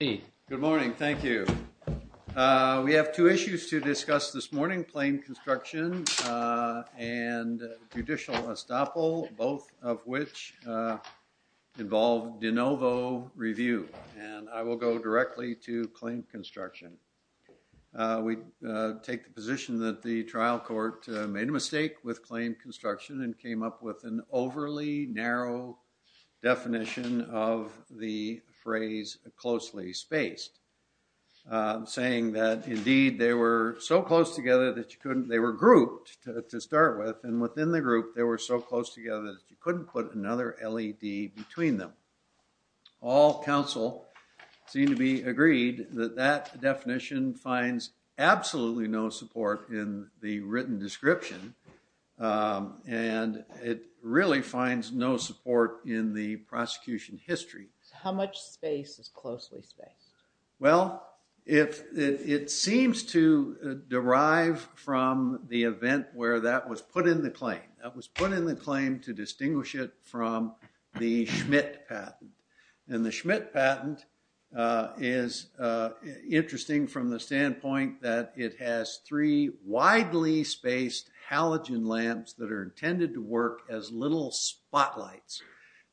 Good morning, thank you. We have two issues to discuss this morning, claim construction and judicial estoppel, both of which involve de novo review, and I will go directly to claim construction. We take the position that the trial court made a mistake with claim construction and came up with an overly narrow definition of the phrase closely spaced, saying that indeed they were so close together that you couldn't, they were grouped to start with, and within the group they were so close together that you couldn't put another LED between them. All counsel seem to be it really finds no support in the prosecution history. How much space is closely spaced? Well, if it seems to derive from the event where that was put in the claim, that was put in the claim to distinguish it from the Schmidt patent, and the Schmidt patent is interesting from the little spotlights,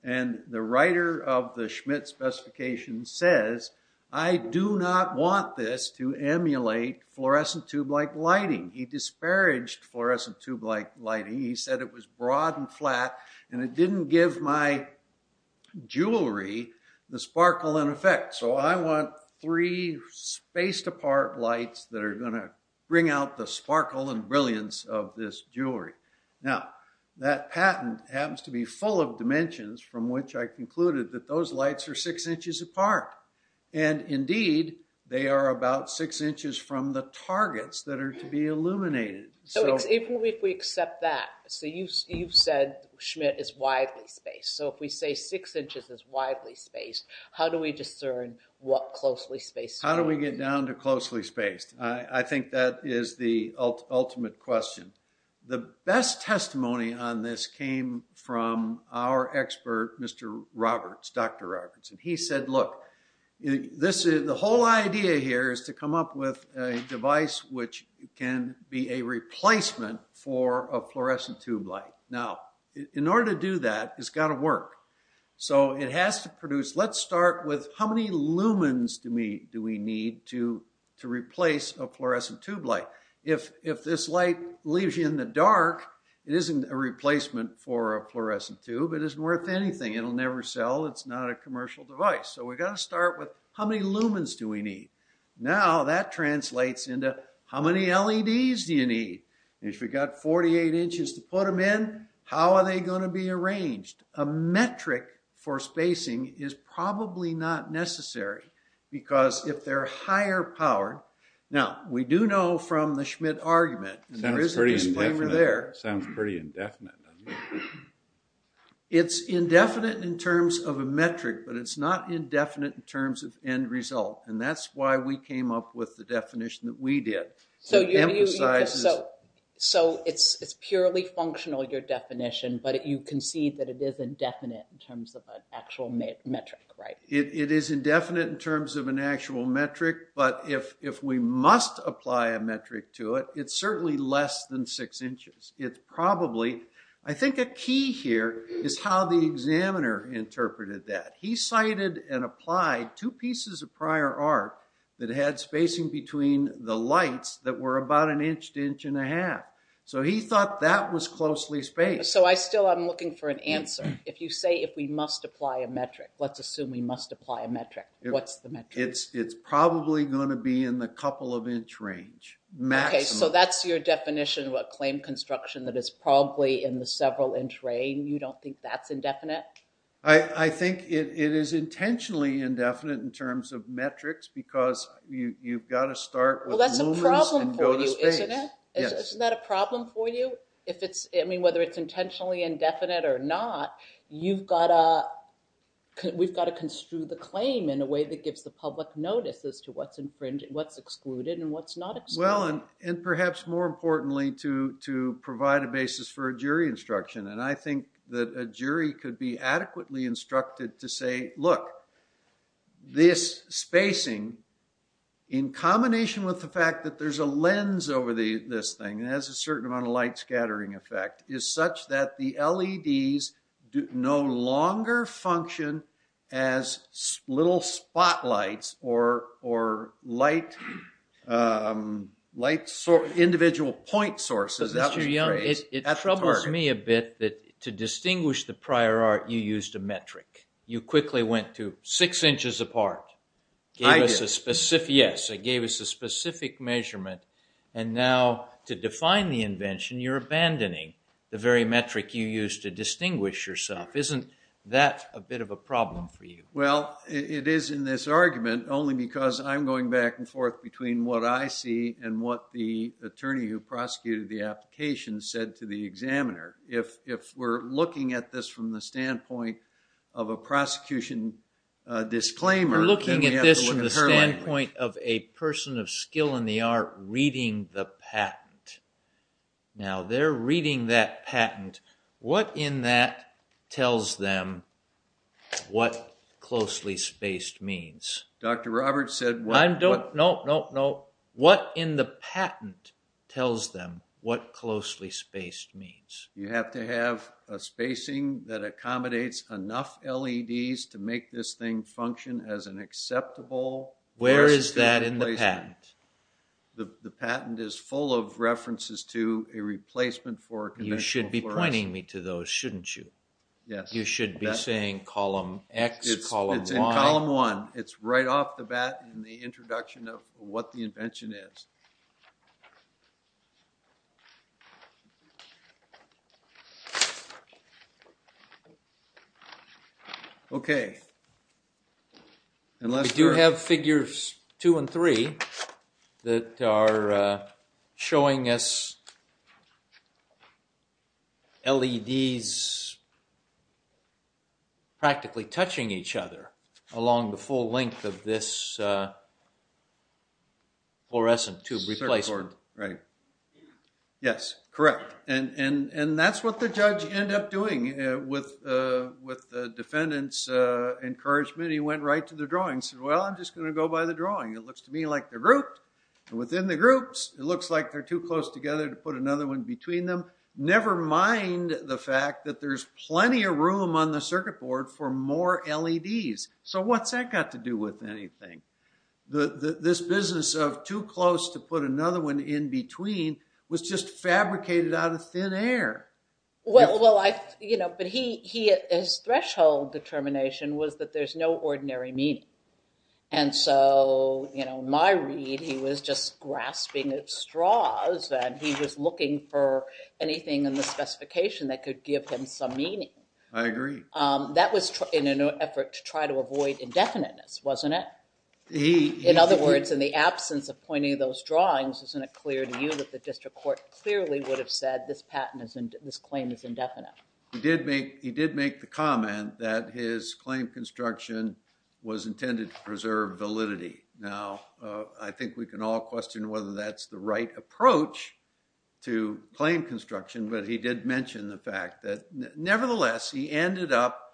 and the writer of the Schmidt specification says, I do not want this to emulate fluorescent tube-like lighting. He disparaged fluorescent tube-like lighting. He said it was broad and flat and it didn't give my jewelry the sparkle and effect, so I want three spaced apart lights that are going to bring out the sparkle and brilliance of this jewelry. Now, that patent happens to be full of dimensions from which I concluded that those lights are six inches apart, and indeed they are about six inches from the targets that are to be illuminated. So if we accept that, so you've said Schmidt is widely spaced, so if we say six inches is closely spaced. How do we get down to closely spaced? I think that is the ultimate question. The best testimony on this came from our expert, Mr. Roberts, Dr. Roberts, and he said, look, this is the whole idea here is to come up with a device which can be a replacement for a fluorescent tube light. Now, in order to do that, it's got to work. So it has to produce, let's start with how lumens do we need to replace a fluorescent tube light? If this light leaves you in the dark, it isn't a replacement for a fluorescent tube. It isn't worth anything. It'll never sell. It's not a commercial device. So we've got to start with how many lumens do we need? Now that translates into how many LEDs do you need? And if you've got 48 inches to put them in, how are they going to Because if they're higher powered, now, we do know from the Schmidt argument, and there is a disclaimer there. Sounds pretty indefinite. It's indefinite in terms of a metric, but it's not indefinite in terms of end result, and that's why we came up with the definition that we did. So it's purely functional, your definition, but you concede that it is indefinite in terms of an actual metric, right? It is indefinite in terms of an actual metric, but if we must apply a metric to it, it's certainly less than six inches. It's probably, I think a key here is how the examiner interpreted that. He cited and applied two pieces of prior art that had spacing between the lights that were about an inch to inch and a half. So he thought that was closely spaced. So I still, I'm looking for an answer. If you say if we must apply a metric, let's assume we must apply a metric, what's the metric? It's probably going to be in the couple of inch range, maximum. Okay, so that's your definition of a claim construction that is probably in the several inch range. You don't think that's indefinite? I think it is intentionally indefinite in terms of metrics because you've got to start with lumens and go to space. Well, that's a problem for you, isn't it? Yes. Isn't that a problem for you? I mean, whether it's intentionally indefinite or not, you've got to, we've got to construe the claim in a way that gives the public notice as to what's infringed, what's excluded and what's not excluded. Well, and perhaps more importantly, to provide a basis for a jury instruction. And I think that a jury could be adequately instructed to say, look, this spacing in combination with the fact that there's a lens over this thing, has a certain amount of light scattering effect, is such that the LEDs no longer function as little spotlights or individual point sources. Mr. Young, it troubles me a bit that to distinguish the prior art, you used a metric. You quickly went to six inches apart, gave us a specific, measurement, and now to define the invention, you're abandoning the very metric you used to distinguish yourself. Isn't that a bit of a problem for you? Well, it is in this argument, only because I'm going back and forth between what I see and what the attorney who prosecuted the application said to the examiner. If we're looking at this from the standpoint of a prosecution disclaimer, then we have to look at her language. You're looking at this from the standpoint of a person of skill in the art reading the patent. Now, they're reading that patent. What in that tells them what closely spaced means? Dr. Roberts said what... No, no, no. What in the patent tells them what closely spaced means? You have to have a spacing that accommodates enough LEDs to make this thing function as an acceptable... Where is that in the patent? The patent is full of references to a replacement for... You should be pointing me to those, shouldn't you? Yes. You should be saying column X, column Y. It's in column one. It's right off the bat in the introduction of what the invention is. Okay. We do have figures two and three that are showing us LEDs practically touching each other along the full length of this fluorescent tube replacement. Right. Yes, correct. And that's what the judge ended up doing with the defendant's encouragement. He went right to the drawings and said, well, I'm just going to go by the drawing. It looks to me like they're grouped. And within the groups, it looks like they're too close the fact that there's plenty of room on the circuit board for more LEDs. So what's that got to do with anything? This business of too close to put another one in between was just fabricated out of thin air. Well, his threshold determination was that there's no ordinary meaning. And so in my read, he was just grasping at straws, and he was looking for anything in the specification that could give him some meaning. I agree. That was in an effort to try to avoid indefiniteness, wasn't it? In other words, in the absence of pointing those drawings, isn't it clear to you that the district court clearly would have said this patent, this claim is indefinite? He did make the comment that his claim construction was intended to preserve validity. Now, I think we can all question whether that's the right approach to claim construction, but he did mention the fact that, nevertheless, he ended up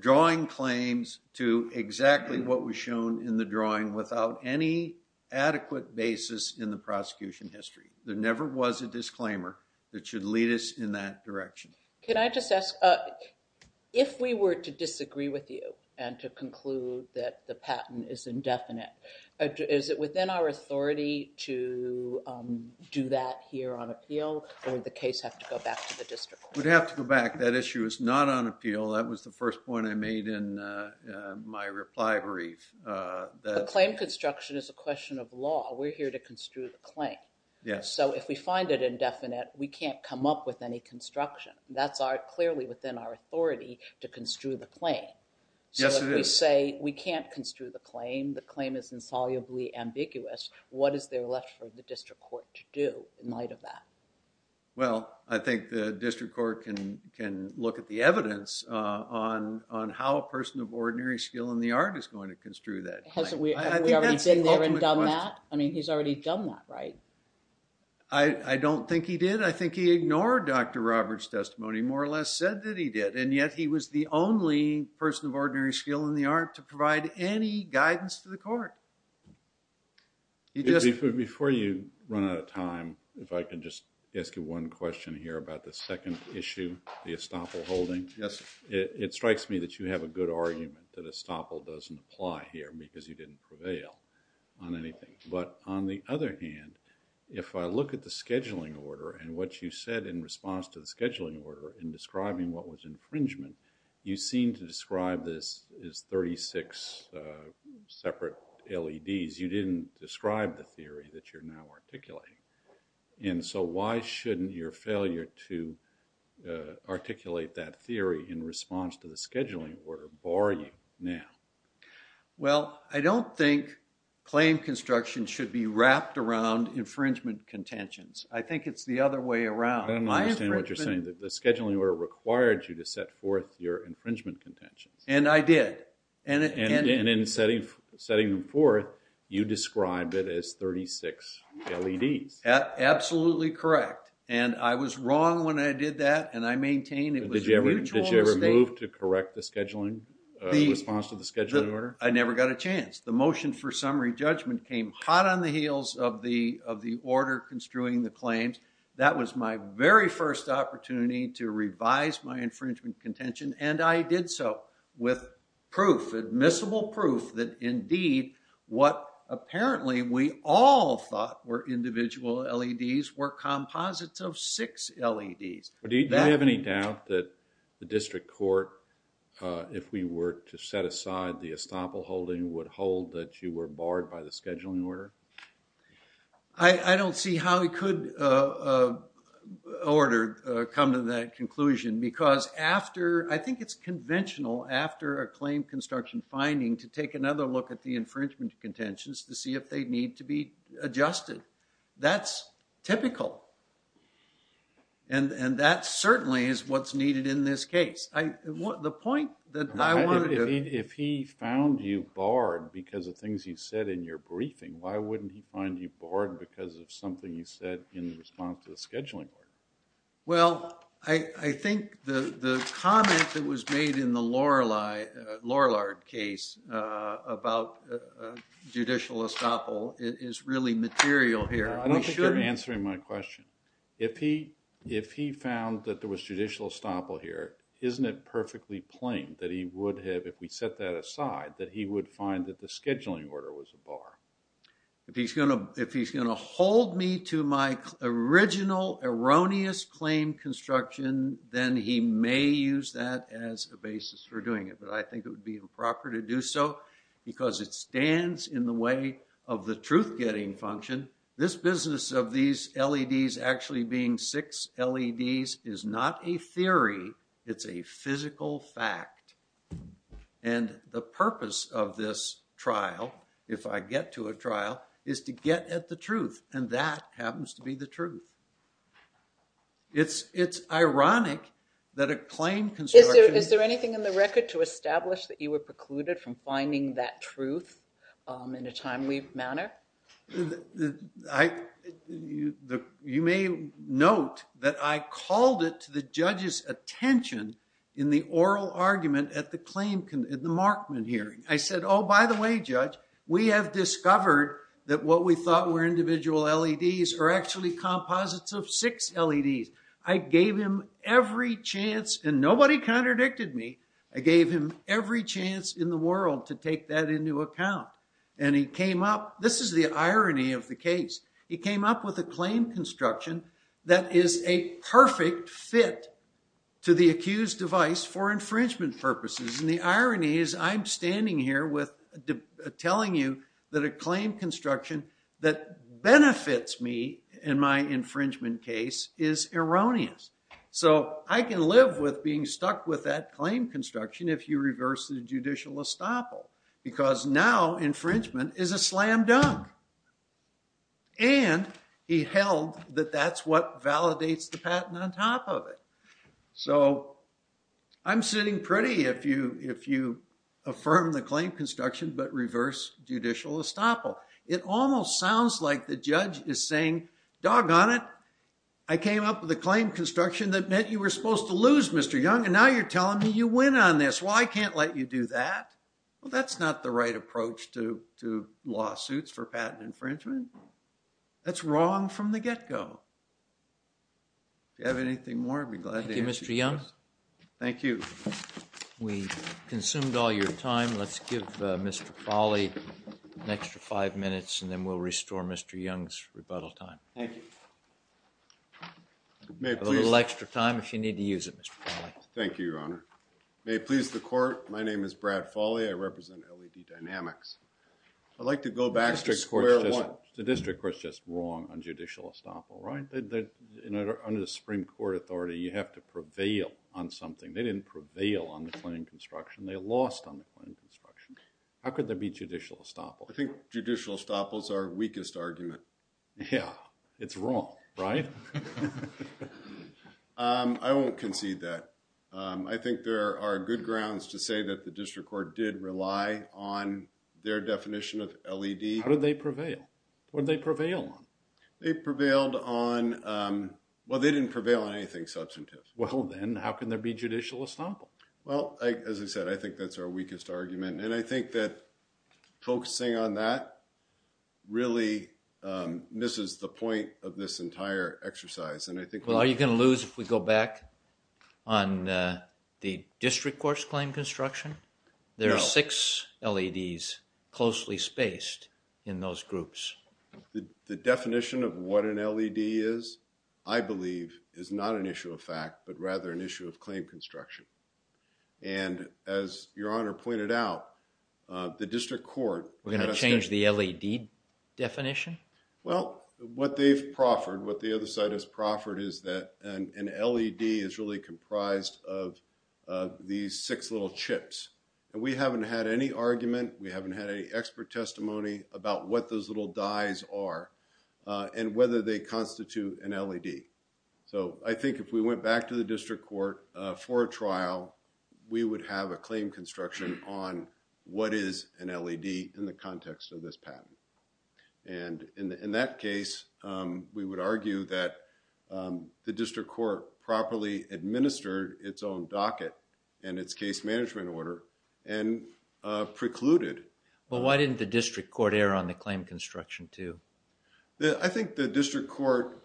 drawing claims to exactly what was shown in the drawing without any adequate basis in the prosecution history. There never was a disclaimer that should lead us in that direction. Can I just ask, if we were to disagree with you and to conclude that the patent is indefinite, is it within our authority to do that here on appeal, or would the case have to go back to the district court? It would have to go back. That issue is not on appeal. That was the first point I made in my reply brief. The claim construction is a question of law. We're here to construe the claim. Yes. So, if we find it indefinite, we can't come up with any construction. That's clearly within our authority to construe the claim. Yes, it is. So, if we say we can't construe the claim, the claim is insolubly ambiguous, what is there left for the district court to do in light of that? Well, I think the district court can look at the evidence on how a person of ordinary skill in the art is going to construe that claim. Have we already been there and done that? I mean, he's already done that, right? I don't think he did. I think he ignored Dr. Roberts' testimony, more or less said that he did, and yet he was the only person of ordinary skill in the art to provide any guidance to the court. Before you run out of time, if I can just ask you one question here about the second issue, the Estoppel holding. Yes. It strikes me that you have a good argument that Estoppel doesn't apply here because he didn't prevail on anything, but on the other hand, if I look at the scheduling order and what you said in response to the scheduling order in describing what was infringement, you seem to describe this as 36 separate LEDs. You didn't describe the theory that you're now articulating, and so why shouldn't your failure to articulate that theory in response to the scheduling order bar you now? Well, I don't think claim construction should be wrapped around infringement contentions. I think it's the other way around. I don't understand what you're saying. The And in setting them forth, you described it as 36 LEDs. Absolutely correct, and I was wrong when I did that, and I maintain it was a mutual mistake. Did you ever move to correct the scheduling response to the scheduling order? I never got a chance. The motion for summary judgment came hot on the heels of the order construing the claims. That was my very first opportunity to revise my proof, admissible proof, that indeed what apparently we all thought were individual LEDs were composites of six LEDs. Do you have any doubt that the district court, if we were to set aside the estoppel holding, would hold that you were barred by the scheduling order? I don't see how we could order come to that conclusion because after, I think it's conventional after a claim construction finding to take another look at the infringement contentions to see if they need to be adjusted. That's typical, and that certainly is what's needed in this case. If he found you barred because of things you said in your briefing, why wouldn't he find you barred because of something you said in the response to the scheduling order? Well, I think the comment that was made in the Lorillard case about judicial estoppel is really material here. I don't think you're answering my question. If he found that there was judicial estoppel here, isn't it perfectly plain that he would have, if we set that aside, that he would find that the scheduling order was a bar? If he's going to hold me to my original erroneous claim construction, then he may use that as a basis for doing it, but I think it would be improper to do so because it stands in the way of the truth-getting function. This business of these LEDs actually being six LEDs is not a theory. It's a physical fact, and the purpose of trial, if I get to a trial, is to get at the truth, and that happens to be the truth. It's ironic that a claim construction... Is there anything in the record to establish that you were precluded from finding that truth in a timely manner? You may note that I called it to the judge's attention in the oral argument at the Markman hearing. I said, oh, by the way, judge, we have discovered that what we thought were individual LEDs are actually composites of six LEDs. I gave him every chance, and nobody contradicted me, I gave him every chance in the world to take that into account, and he came up... This is the irony of the case. He came up with a claim construction that is a perfect fit to the accused device for the trial. I'm standing here telling you that a claim construction that benefits me in my infringement case is erroneous, so I can live with being stuck with that claim construction if you reverse the judicial estoppel because now infringement is a slam dunk, and he held that that's what validates the patent on top of it, so I'm sitting pretty if you affirm the claim construction but reverse judicial estoppel. It almost sounds like the judge is saying, doggone it, I came up with a claim construction that meant you were supposed to lose, Mr. Young, and now you're telling me you win on this. Well, I can't let you do that. Well, that's not the right approach to lawsuits for patent infringement. That's wrong from the get-go. If you have anything more, I'd be glad to answer. Thank you, Mr. Young. Thank you. We consumed all your time. Let's give Mr. Folley an extra five minutes, and then we'll restore Mr. Young's rebuttal time. Thank you. A little extra time if you need to use it, Mr. Folley. Thank you, Your Honor. May it please the court, my name is Brad Folley. I represent LED Dynamics. I'd like to go back to square one. The district court's just wrong on judicial estoppel, right? Under the Supreme Court authority, you have to prevail on something. They didn't prevail on the claim construction. They lost on the claim construction. How could there be judicial estoppel? I think judicial estoppels are weakest argument. Yeah, it's wrong, right? I won't concede that. I think there are good grounds to say that the district court did rely on their definition of LED. How did they prevail? What did they prevail on? They prevailed on, well, they didn't prevail on anything substantive. Well, then how can there be judicial estoppel? Well, as I said, I think that's our weakest argument, and I think that focusing on that really misses the point of this entire exercise, and I think. Are you going to lose if we go back on the district court's claim construction? There are six LEDs closely spaced in those groups. The definition of what an LED is, I believe, is not an issue of fact, but rather an issue of claim construction, and as Your Honor pointed out, the district court. We're going to change the LED definition? Well, what they've proffered, what the other side has proffered is that an LED is really comprised of these six little chips, and we haven't had any argument. We haven't had any expert testimony about what those little dyes are and whether they constitute an LED, so I think if we went back to the district court for a trial, we would have a claim construction on what is an LED in the we would argue that the district court properly administered its own docket and its case management order and precluded. Well, why didn't the district court err on the claim construction too? I think the district court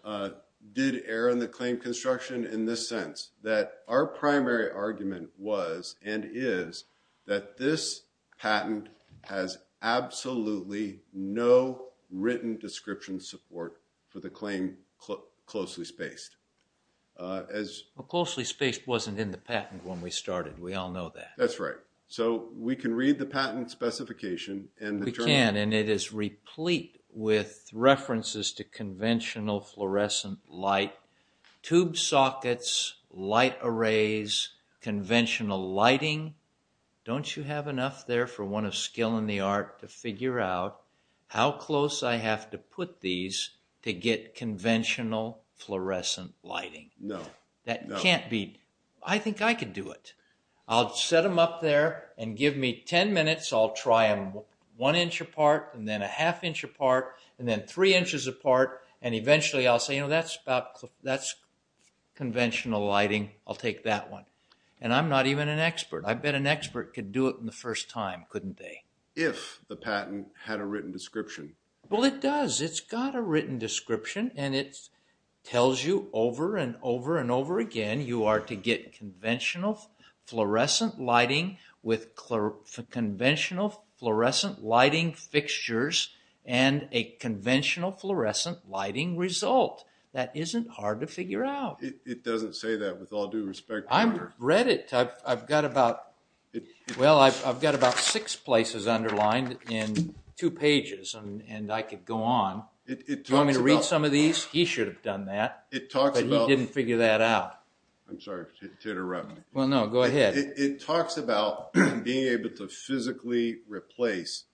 did err on the claim construction in this sense, that our primary the claim closely spaced. Well, closely spaced wasn't in the patent when we started. We all know that. That's right. So, we can read the patent specification. We can, and it is replete with references to conventional fluorescent light, tube sockets, light arrays, conventional lighting. Don't you have enough there for one of skill in the art to figure out how close I have to these to get conventional fluorescent lighting? No. That can't be. I think I could do it. I'll set them up there and give me 10 minutes. I'll try them one inch apart and then a half inch apart and then three inches apart, and eventually I'll say, you know, that's about that's conventional lighting. I'll take that one, and I'm not even an expert. I bet an expert could do it in the first time, couldn't they? If the patent had a written description. Well, it does. It's got a written description, and it tells you over and over and over again you are to get conventional fluorescent lighting with conventional fluorescent lighting fixtures and a conventional fluorescent lighting result. That isn't hard to figure out. It doesn't say that with all due respect. I've read it. I've got about six places underlined in two pages, and I could go on. Do you want me to read some of these? He should have done that. It talks about... He didn't figure that out. I'm sorry to interrupt. Well, no, go ahead. It talks about being able to physically replace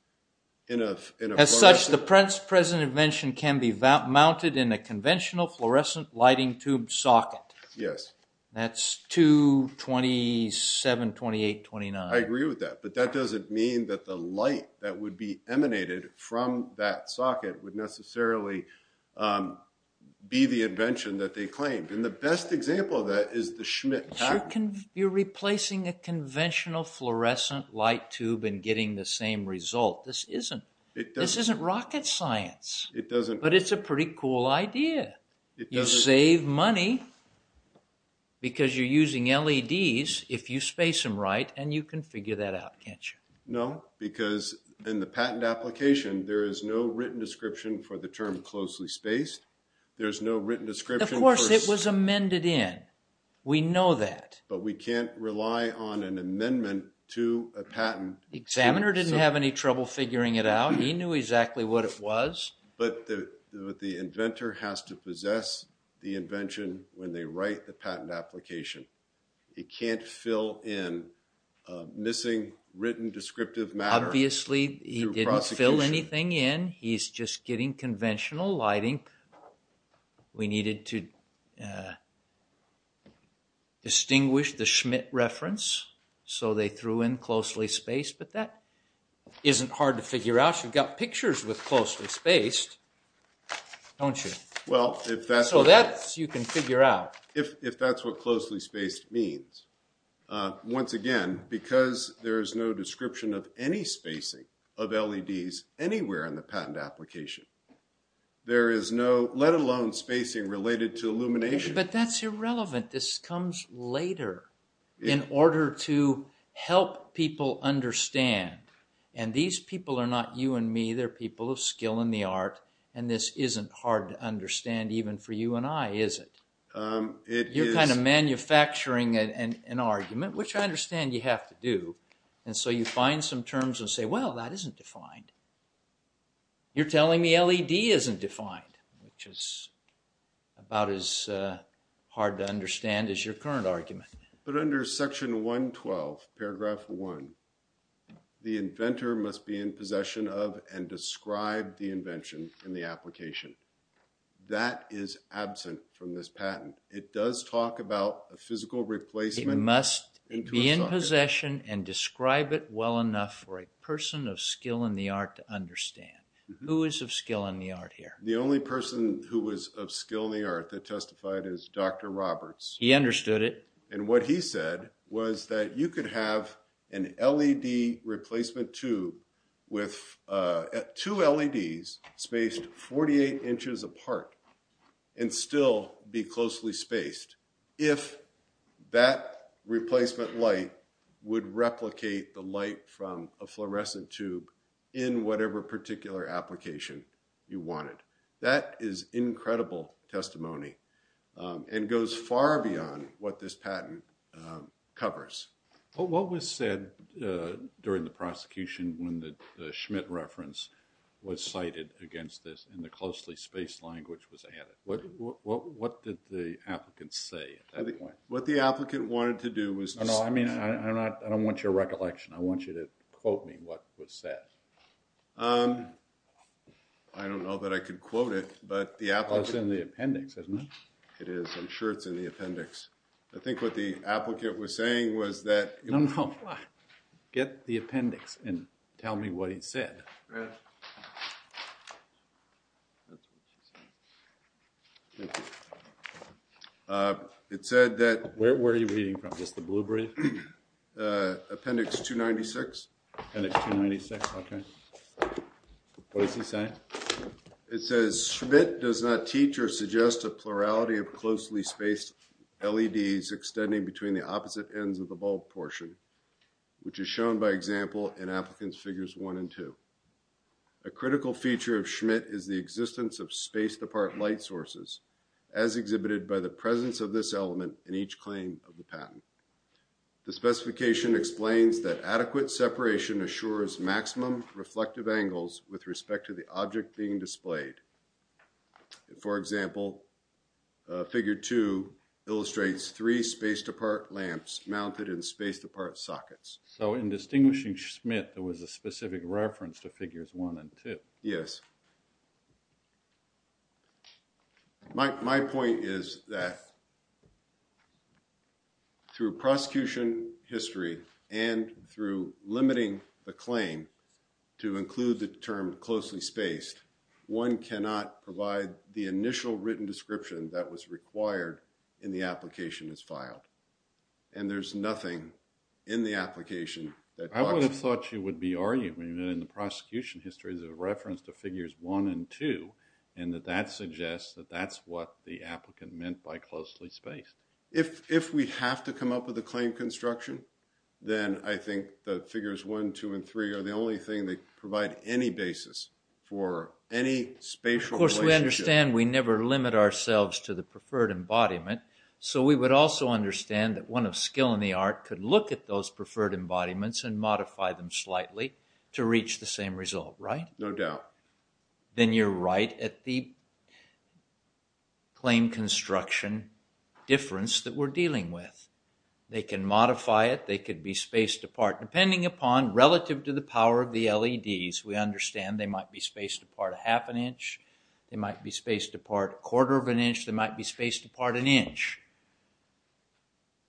in a... As such, the present invention can be mounted in a conventional fluorescent lighting tube socket. Yes. That's 227, 28, 29. I agree with that, but that doesn't mean that the light that would be emanated from that socket would necessarily be the invention that they claimed. And the best example of that is the Schmitt patent. You're replacing a conventional fluorescent light tube and getting the same result. This isn't rocket science. It doesn't. But it's a pretty cool idea. You save money because you're using LEDs if you space them right, and you can figure that out, can't you? No, because in the patent application, there is no written description for the term closely spaced. There's no written description. Of course, it was amended in. We know that. But we can't rely on an amendment to a patent. The examiner didn't have any trouble figuring it out. He knew exactly what it was. But the inventor has to possess the invention when they write the patent application. It can't fill in a missing written descriptive matter. Obviously, he didn't fill anything in. He's just getting conventional lighting. We needed to get pictures with closely spaced, don't you? So that you can figure out. If that's what closely spaced means. Once again, because there is no description of any spacing of LEDs anywhere in the patent application, there is no, let alone spacing related to illumination. But that's irrelevant. This comes later in order to help people understand. And these people are not you and me. They're people of skill in the art. And this isn't hard to understand even for you and I, is it? You're kind of manufacturing an argument, which I understand you have to do. And so you find some terms and say, well, that isn't defined. You're telling me LED isn't defined, which is about as hard to understand as your current argument. But under section 112, paragraph one, the inventor must be in possession of and describe the invention in the application. That is absent from this patent. It does talk about a physical replacement. It must be in possession and describe it well enough for a person of skill in the art to understand. Who is of skill in the art here? The only person who was of skill in the art that what he said was that you could have an LED replacement tube with two LEDs spaced 48 inches apart and still be closely spaced. If that replacement light would replicate the light from a fluorescent tube in whatever particular application you wanted. That is incredible testimony and goes far beyond what this patent covers. What was said during the prosecution when the Schmidt reference was cited against this and the closely spaced language was added? What did the applicant say? What the applicant wanted to do was... No, I don't want your recollection. I want you to quote me what was said. I don't know that I could quote it, but it's in the appendix, isn't it? It is. I'm sure it's in the appendix. I think what the applicant was saying was that... No, no. Get the appendix and tell me what he said. It said that... Where are you reading from? Just the blue brief? Appendix 296. Appendix 296, okay. What does he say? It says, Schmidt does not teach or suggest a plurality of closely spaced LEDs extending between the opposite ends of the bulb portion, which is shown by example in applicants figures one and two. A critical feature of Schmidt is the existence of spaced apart light sources as exhibited by the presence of this element in each claim of the patent. The specification explains that adequate separation assures maximum reflective angles with respect to the object being displayed. For example, figure two illustrates three spaced apart lamps mounted in spaced apart sockets. So in distinguishing Schmidt, there was a specific reference to figures one and two. Yes. My point is that through prosecution history and through limiting the claim to include the term closely spaced, one cannot provide the initial written description that was required in the application as filed. And there's nothing in the application that... I would have thought you would be arguing that in the prosecution history there's a reference to figures one and two and that that suggests that that's what the applicant meant by closely spaced. If we have to come up with a claim construction, then I think that figures one, two, and three are the only thing that provide any basis for any spatial relationship. Of course, we understand we never limit ourselves to the preferred embodiment. So we would also understand that one of skill in the to reach the same result, right? No doubt. Then you're right at the claim construction difference that we're dealing with. They can modify it. They could be spaced apart. Depending upon relative to the power of the LEDs, we understand they might be spaced apart a half an inch. They might be spaced apart a quarter of an inch. They might be spaced apart an inch.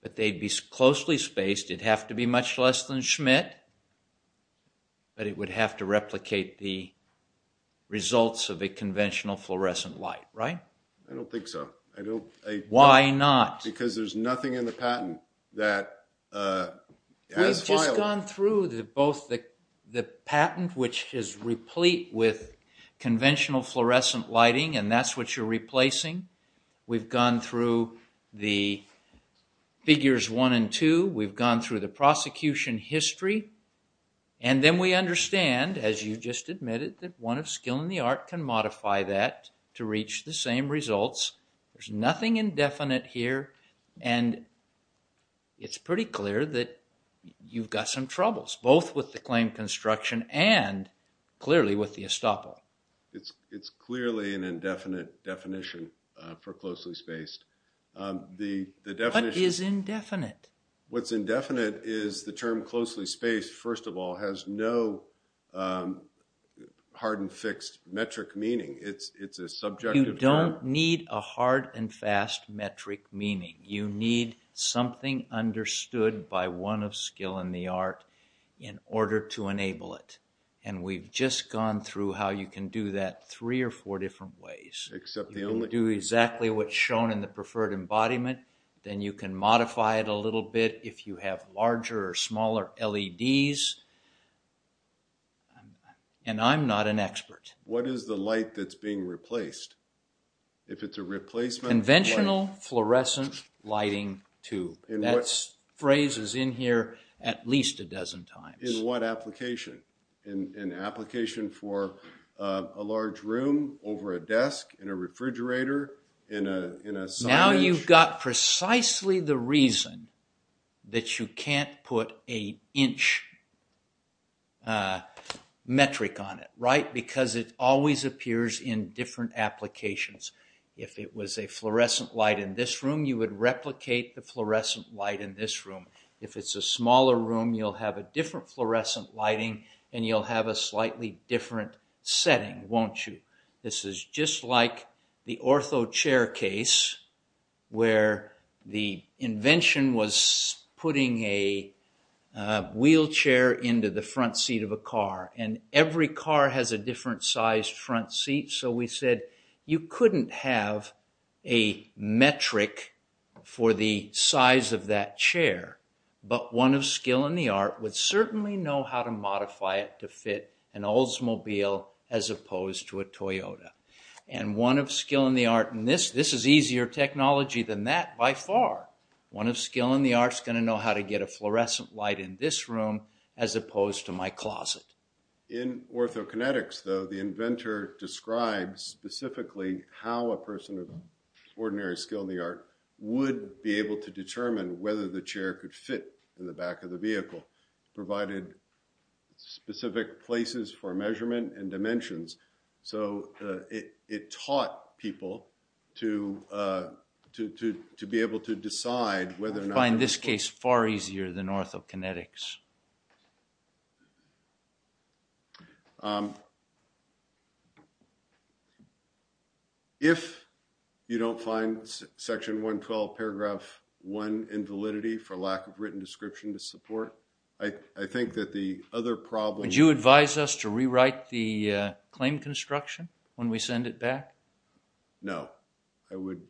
But they'd be closely spaced. It'd have to be much less than Schmidt, but it would have to replicate the results of a conventional fluorescent light, right? I don't think so. Why not? Because there's nothing in the patent that has filed... We've just gone through both the patent which is replete with conventional fluorescent lighting and that's what you're replacing. We've gone through the figures one and two. We've gone through the prosecution history and then we understand, as you just admitted, that one of skill in the art can modify that to reach the same results. There's nothing indefinite here and it's pretty clear that you've got some troubles, both with the claim construction and clearly with the estoppel. It's clearly an indefinite definition for closely spaced. What is indefinite? What's indefinite is the term closely spaced, first of all, has no hard and fixed metric meaning. It's a subjective... You don't need a hard and fast metric meaning. You need something understood by one of skill in the art in order to enable it. We've just gone through how you can do that three or four different ways. You can do exactly what's shown in the preferred embodiment, then you can modify it a little bit if you have larger or smaller LEDs, and I'm not an expert. What is the light that's being replaced? If it's a replacement... Conventional fluorescent lighting tube. That phrase is in here at least a dozen times. In what application? In an application for a large room, over a desk, in a refrigerator, in a... Now you've got precisely the reason that you can't put a inch metric on it, right? Because it always appears in different applications. If it was a fluorescent light in this room, you would replicate the fluorescent light in this room. If it's a smaller room, you'll have a different fluorescent lighting and you'll have a slightly different setting, won't you? This is just like the ortho chair case where the invention was putting a wheelchair into the front seat of a car, and every car has a different size front seat. So we said you couldn't have a metric for the size of that chair, but one of skill in the art would know how to modify it to fit an Oldsmobile as opposed to a Toyota. And one of skill in the art... And this is easier technology than that by far. One of skill in the art is going to know how to get a fluorescent light in this room as opposed to my closet. In orthokinetics though, the inventor describes specifically how a person of ordinary skill in the art would be able to determine whether the chair could fit in the back of the vehicle, provided specific places for measurement and dimensions. So it taught people to be able to decide whether or not... I find this case far easier than orthokinetics. If you don't find section 112 paragraph 1 invalidity for lack of written description to support, I think that the other problem... Would you advise us to rewrite the claim construction when we send it back? No. I would...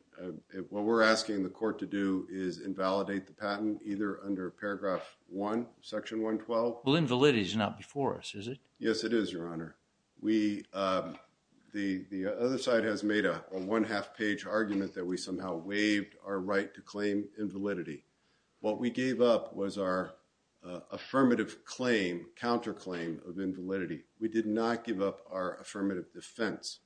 What we're asking the court to do is invalidate the patent either under paragraph 1 section 112. Well, invalidity is not before us, is it? Yes, it is, your honor. The other side has made a one-half page argument that we somehow waived our right to claim invalidity. What we gave up was our affirmative claim, counterclaim of invalidity. We did not give up our affirmative defense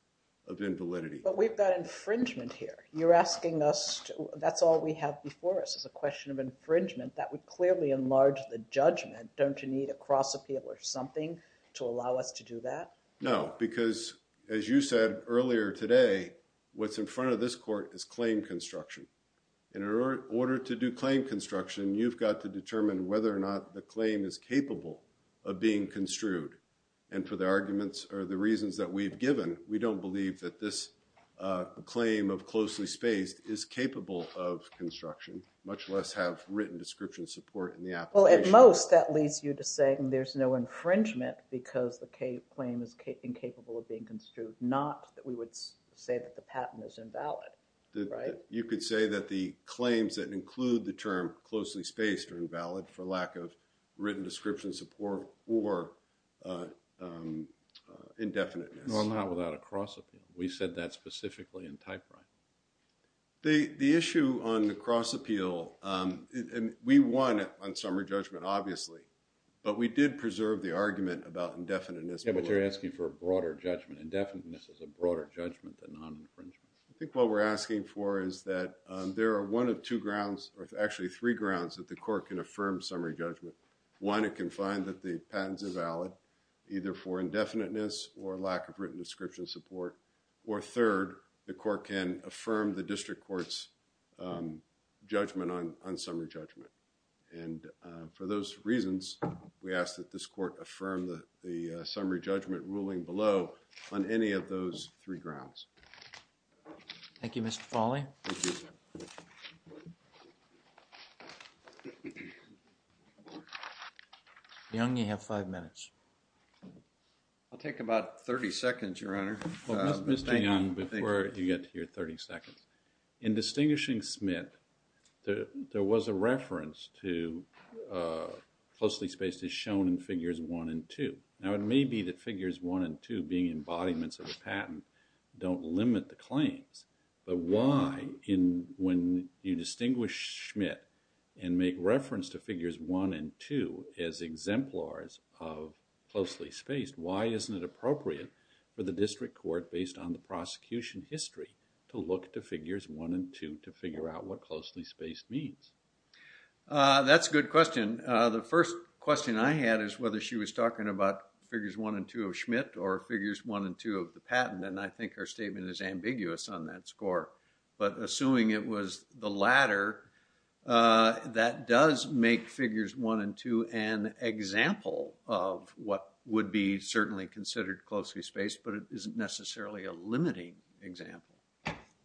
of invalidity. But we've got infringement here. You're asking us to... That's all we have before us is a question of infringement. That would clearly enlarge the judgment. Don't you need a cross appeal or something to allow us to do that? No, because as you said earlier today, what's in front of this court is claim construction. In order to do claim construction, you've got to determine whether or not the claim is capable of being construed. And for the arguments or the reasons that we've given, we don't believe that this claim of closely spaced is capable of construction, much less have written description support in the application. Well, at most, that leads you to say there's no infringement because the claim is incapable of being construed, not that we would say that the patent is invalid, right? You could say that the claims that include the term closely spaced are invalid for lack of written description support or indefiniteness. Well, not without a cross appeal. We said that specifically in typewriting. The issue on the cross appeal, we won on summary judgment, obviously, but we did preserve the argument about indefiniteness. Yeah, but you're asking for a broader judgment. Indefiniteness is a broader judgment than non-infringement. I think what we're asking for is that there are one of two grounds that the court can affirm summary judgment. One, it can find that the patents are valid either for indefiniteness or lack of written description support, or third, the court can affirm the district court's judgment on summary judgment. And for those reasons, we ask that this court affirm the summary judgment ruling below on any of those three grounds. Thank you, Mr. Fawley. Young, you have five minutes. I'll take about 30 seconds, Your Honor. Mr. Young, before you get to your 30 seconds, in distinguishing Schmitt, there was a reference to closely spaced as shown in figures one and two. Now, it may be that figures one and two being embodiments of a patent don't limit the claims, but why, when you distinguish Schmitt and make reference to figures one and two as exemplars of closely spaced, why isn't it appropriate for the district court, based on the prosecution history, to look to figures one and two to figure out what closely spaced means? That's a good question. The first question I had is whether she was talking about figures one and two of Schmitt or figures one and two of the patent, and I think her statement is ambiguous on that score, but assuming it was the latter, that does make figures one and two an example of what would be certainly considered closely spaced, but it isn't necessarily a limiting example.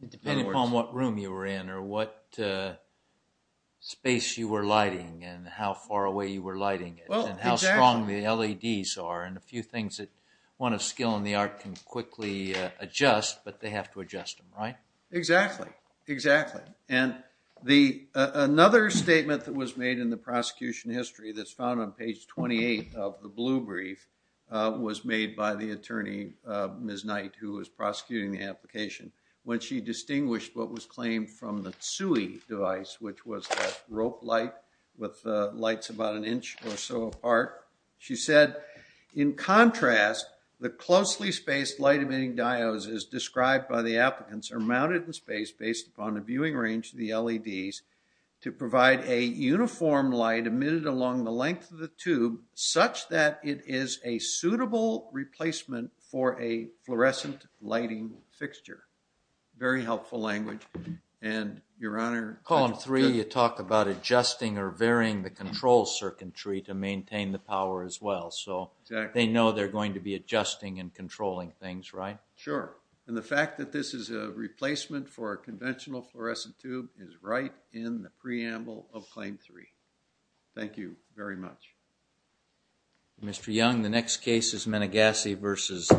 It depends upon what room you were in or what space you were lighting and how far away you were lighting it and how strong the LEDs are and a few things that one of skill and the art can quickly adjust, but they have to adjust them, right? Exactly, exactly, and another statement that was made in the prosecution history that's found on page 28 of the blue brief was made by the attorney, Ms. Knight, who was prosecuting the application when she distinguished what was claimed from the TSUI device, which was a rope light with she said, in contrast, the closely spaced light-emitting diodes as described by the applicants are mounted in space based upon a viewing range of the LEDs to provide a uniform light emitted along the length of the tube such that it is a suitable replacement for a fluorescent lighting fixture. Very helpful language, and your honor. Column three, you talk about adjusting or maintaining the power as well, so they know they're going to be adjusting and controlling things, right? Sure, and the fact that this is a replacement for a conventional fluorescent tube is right in the preamble of claim three. Thank you very much. Mr. Young, the next case is Meneghassi versus the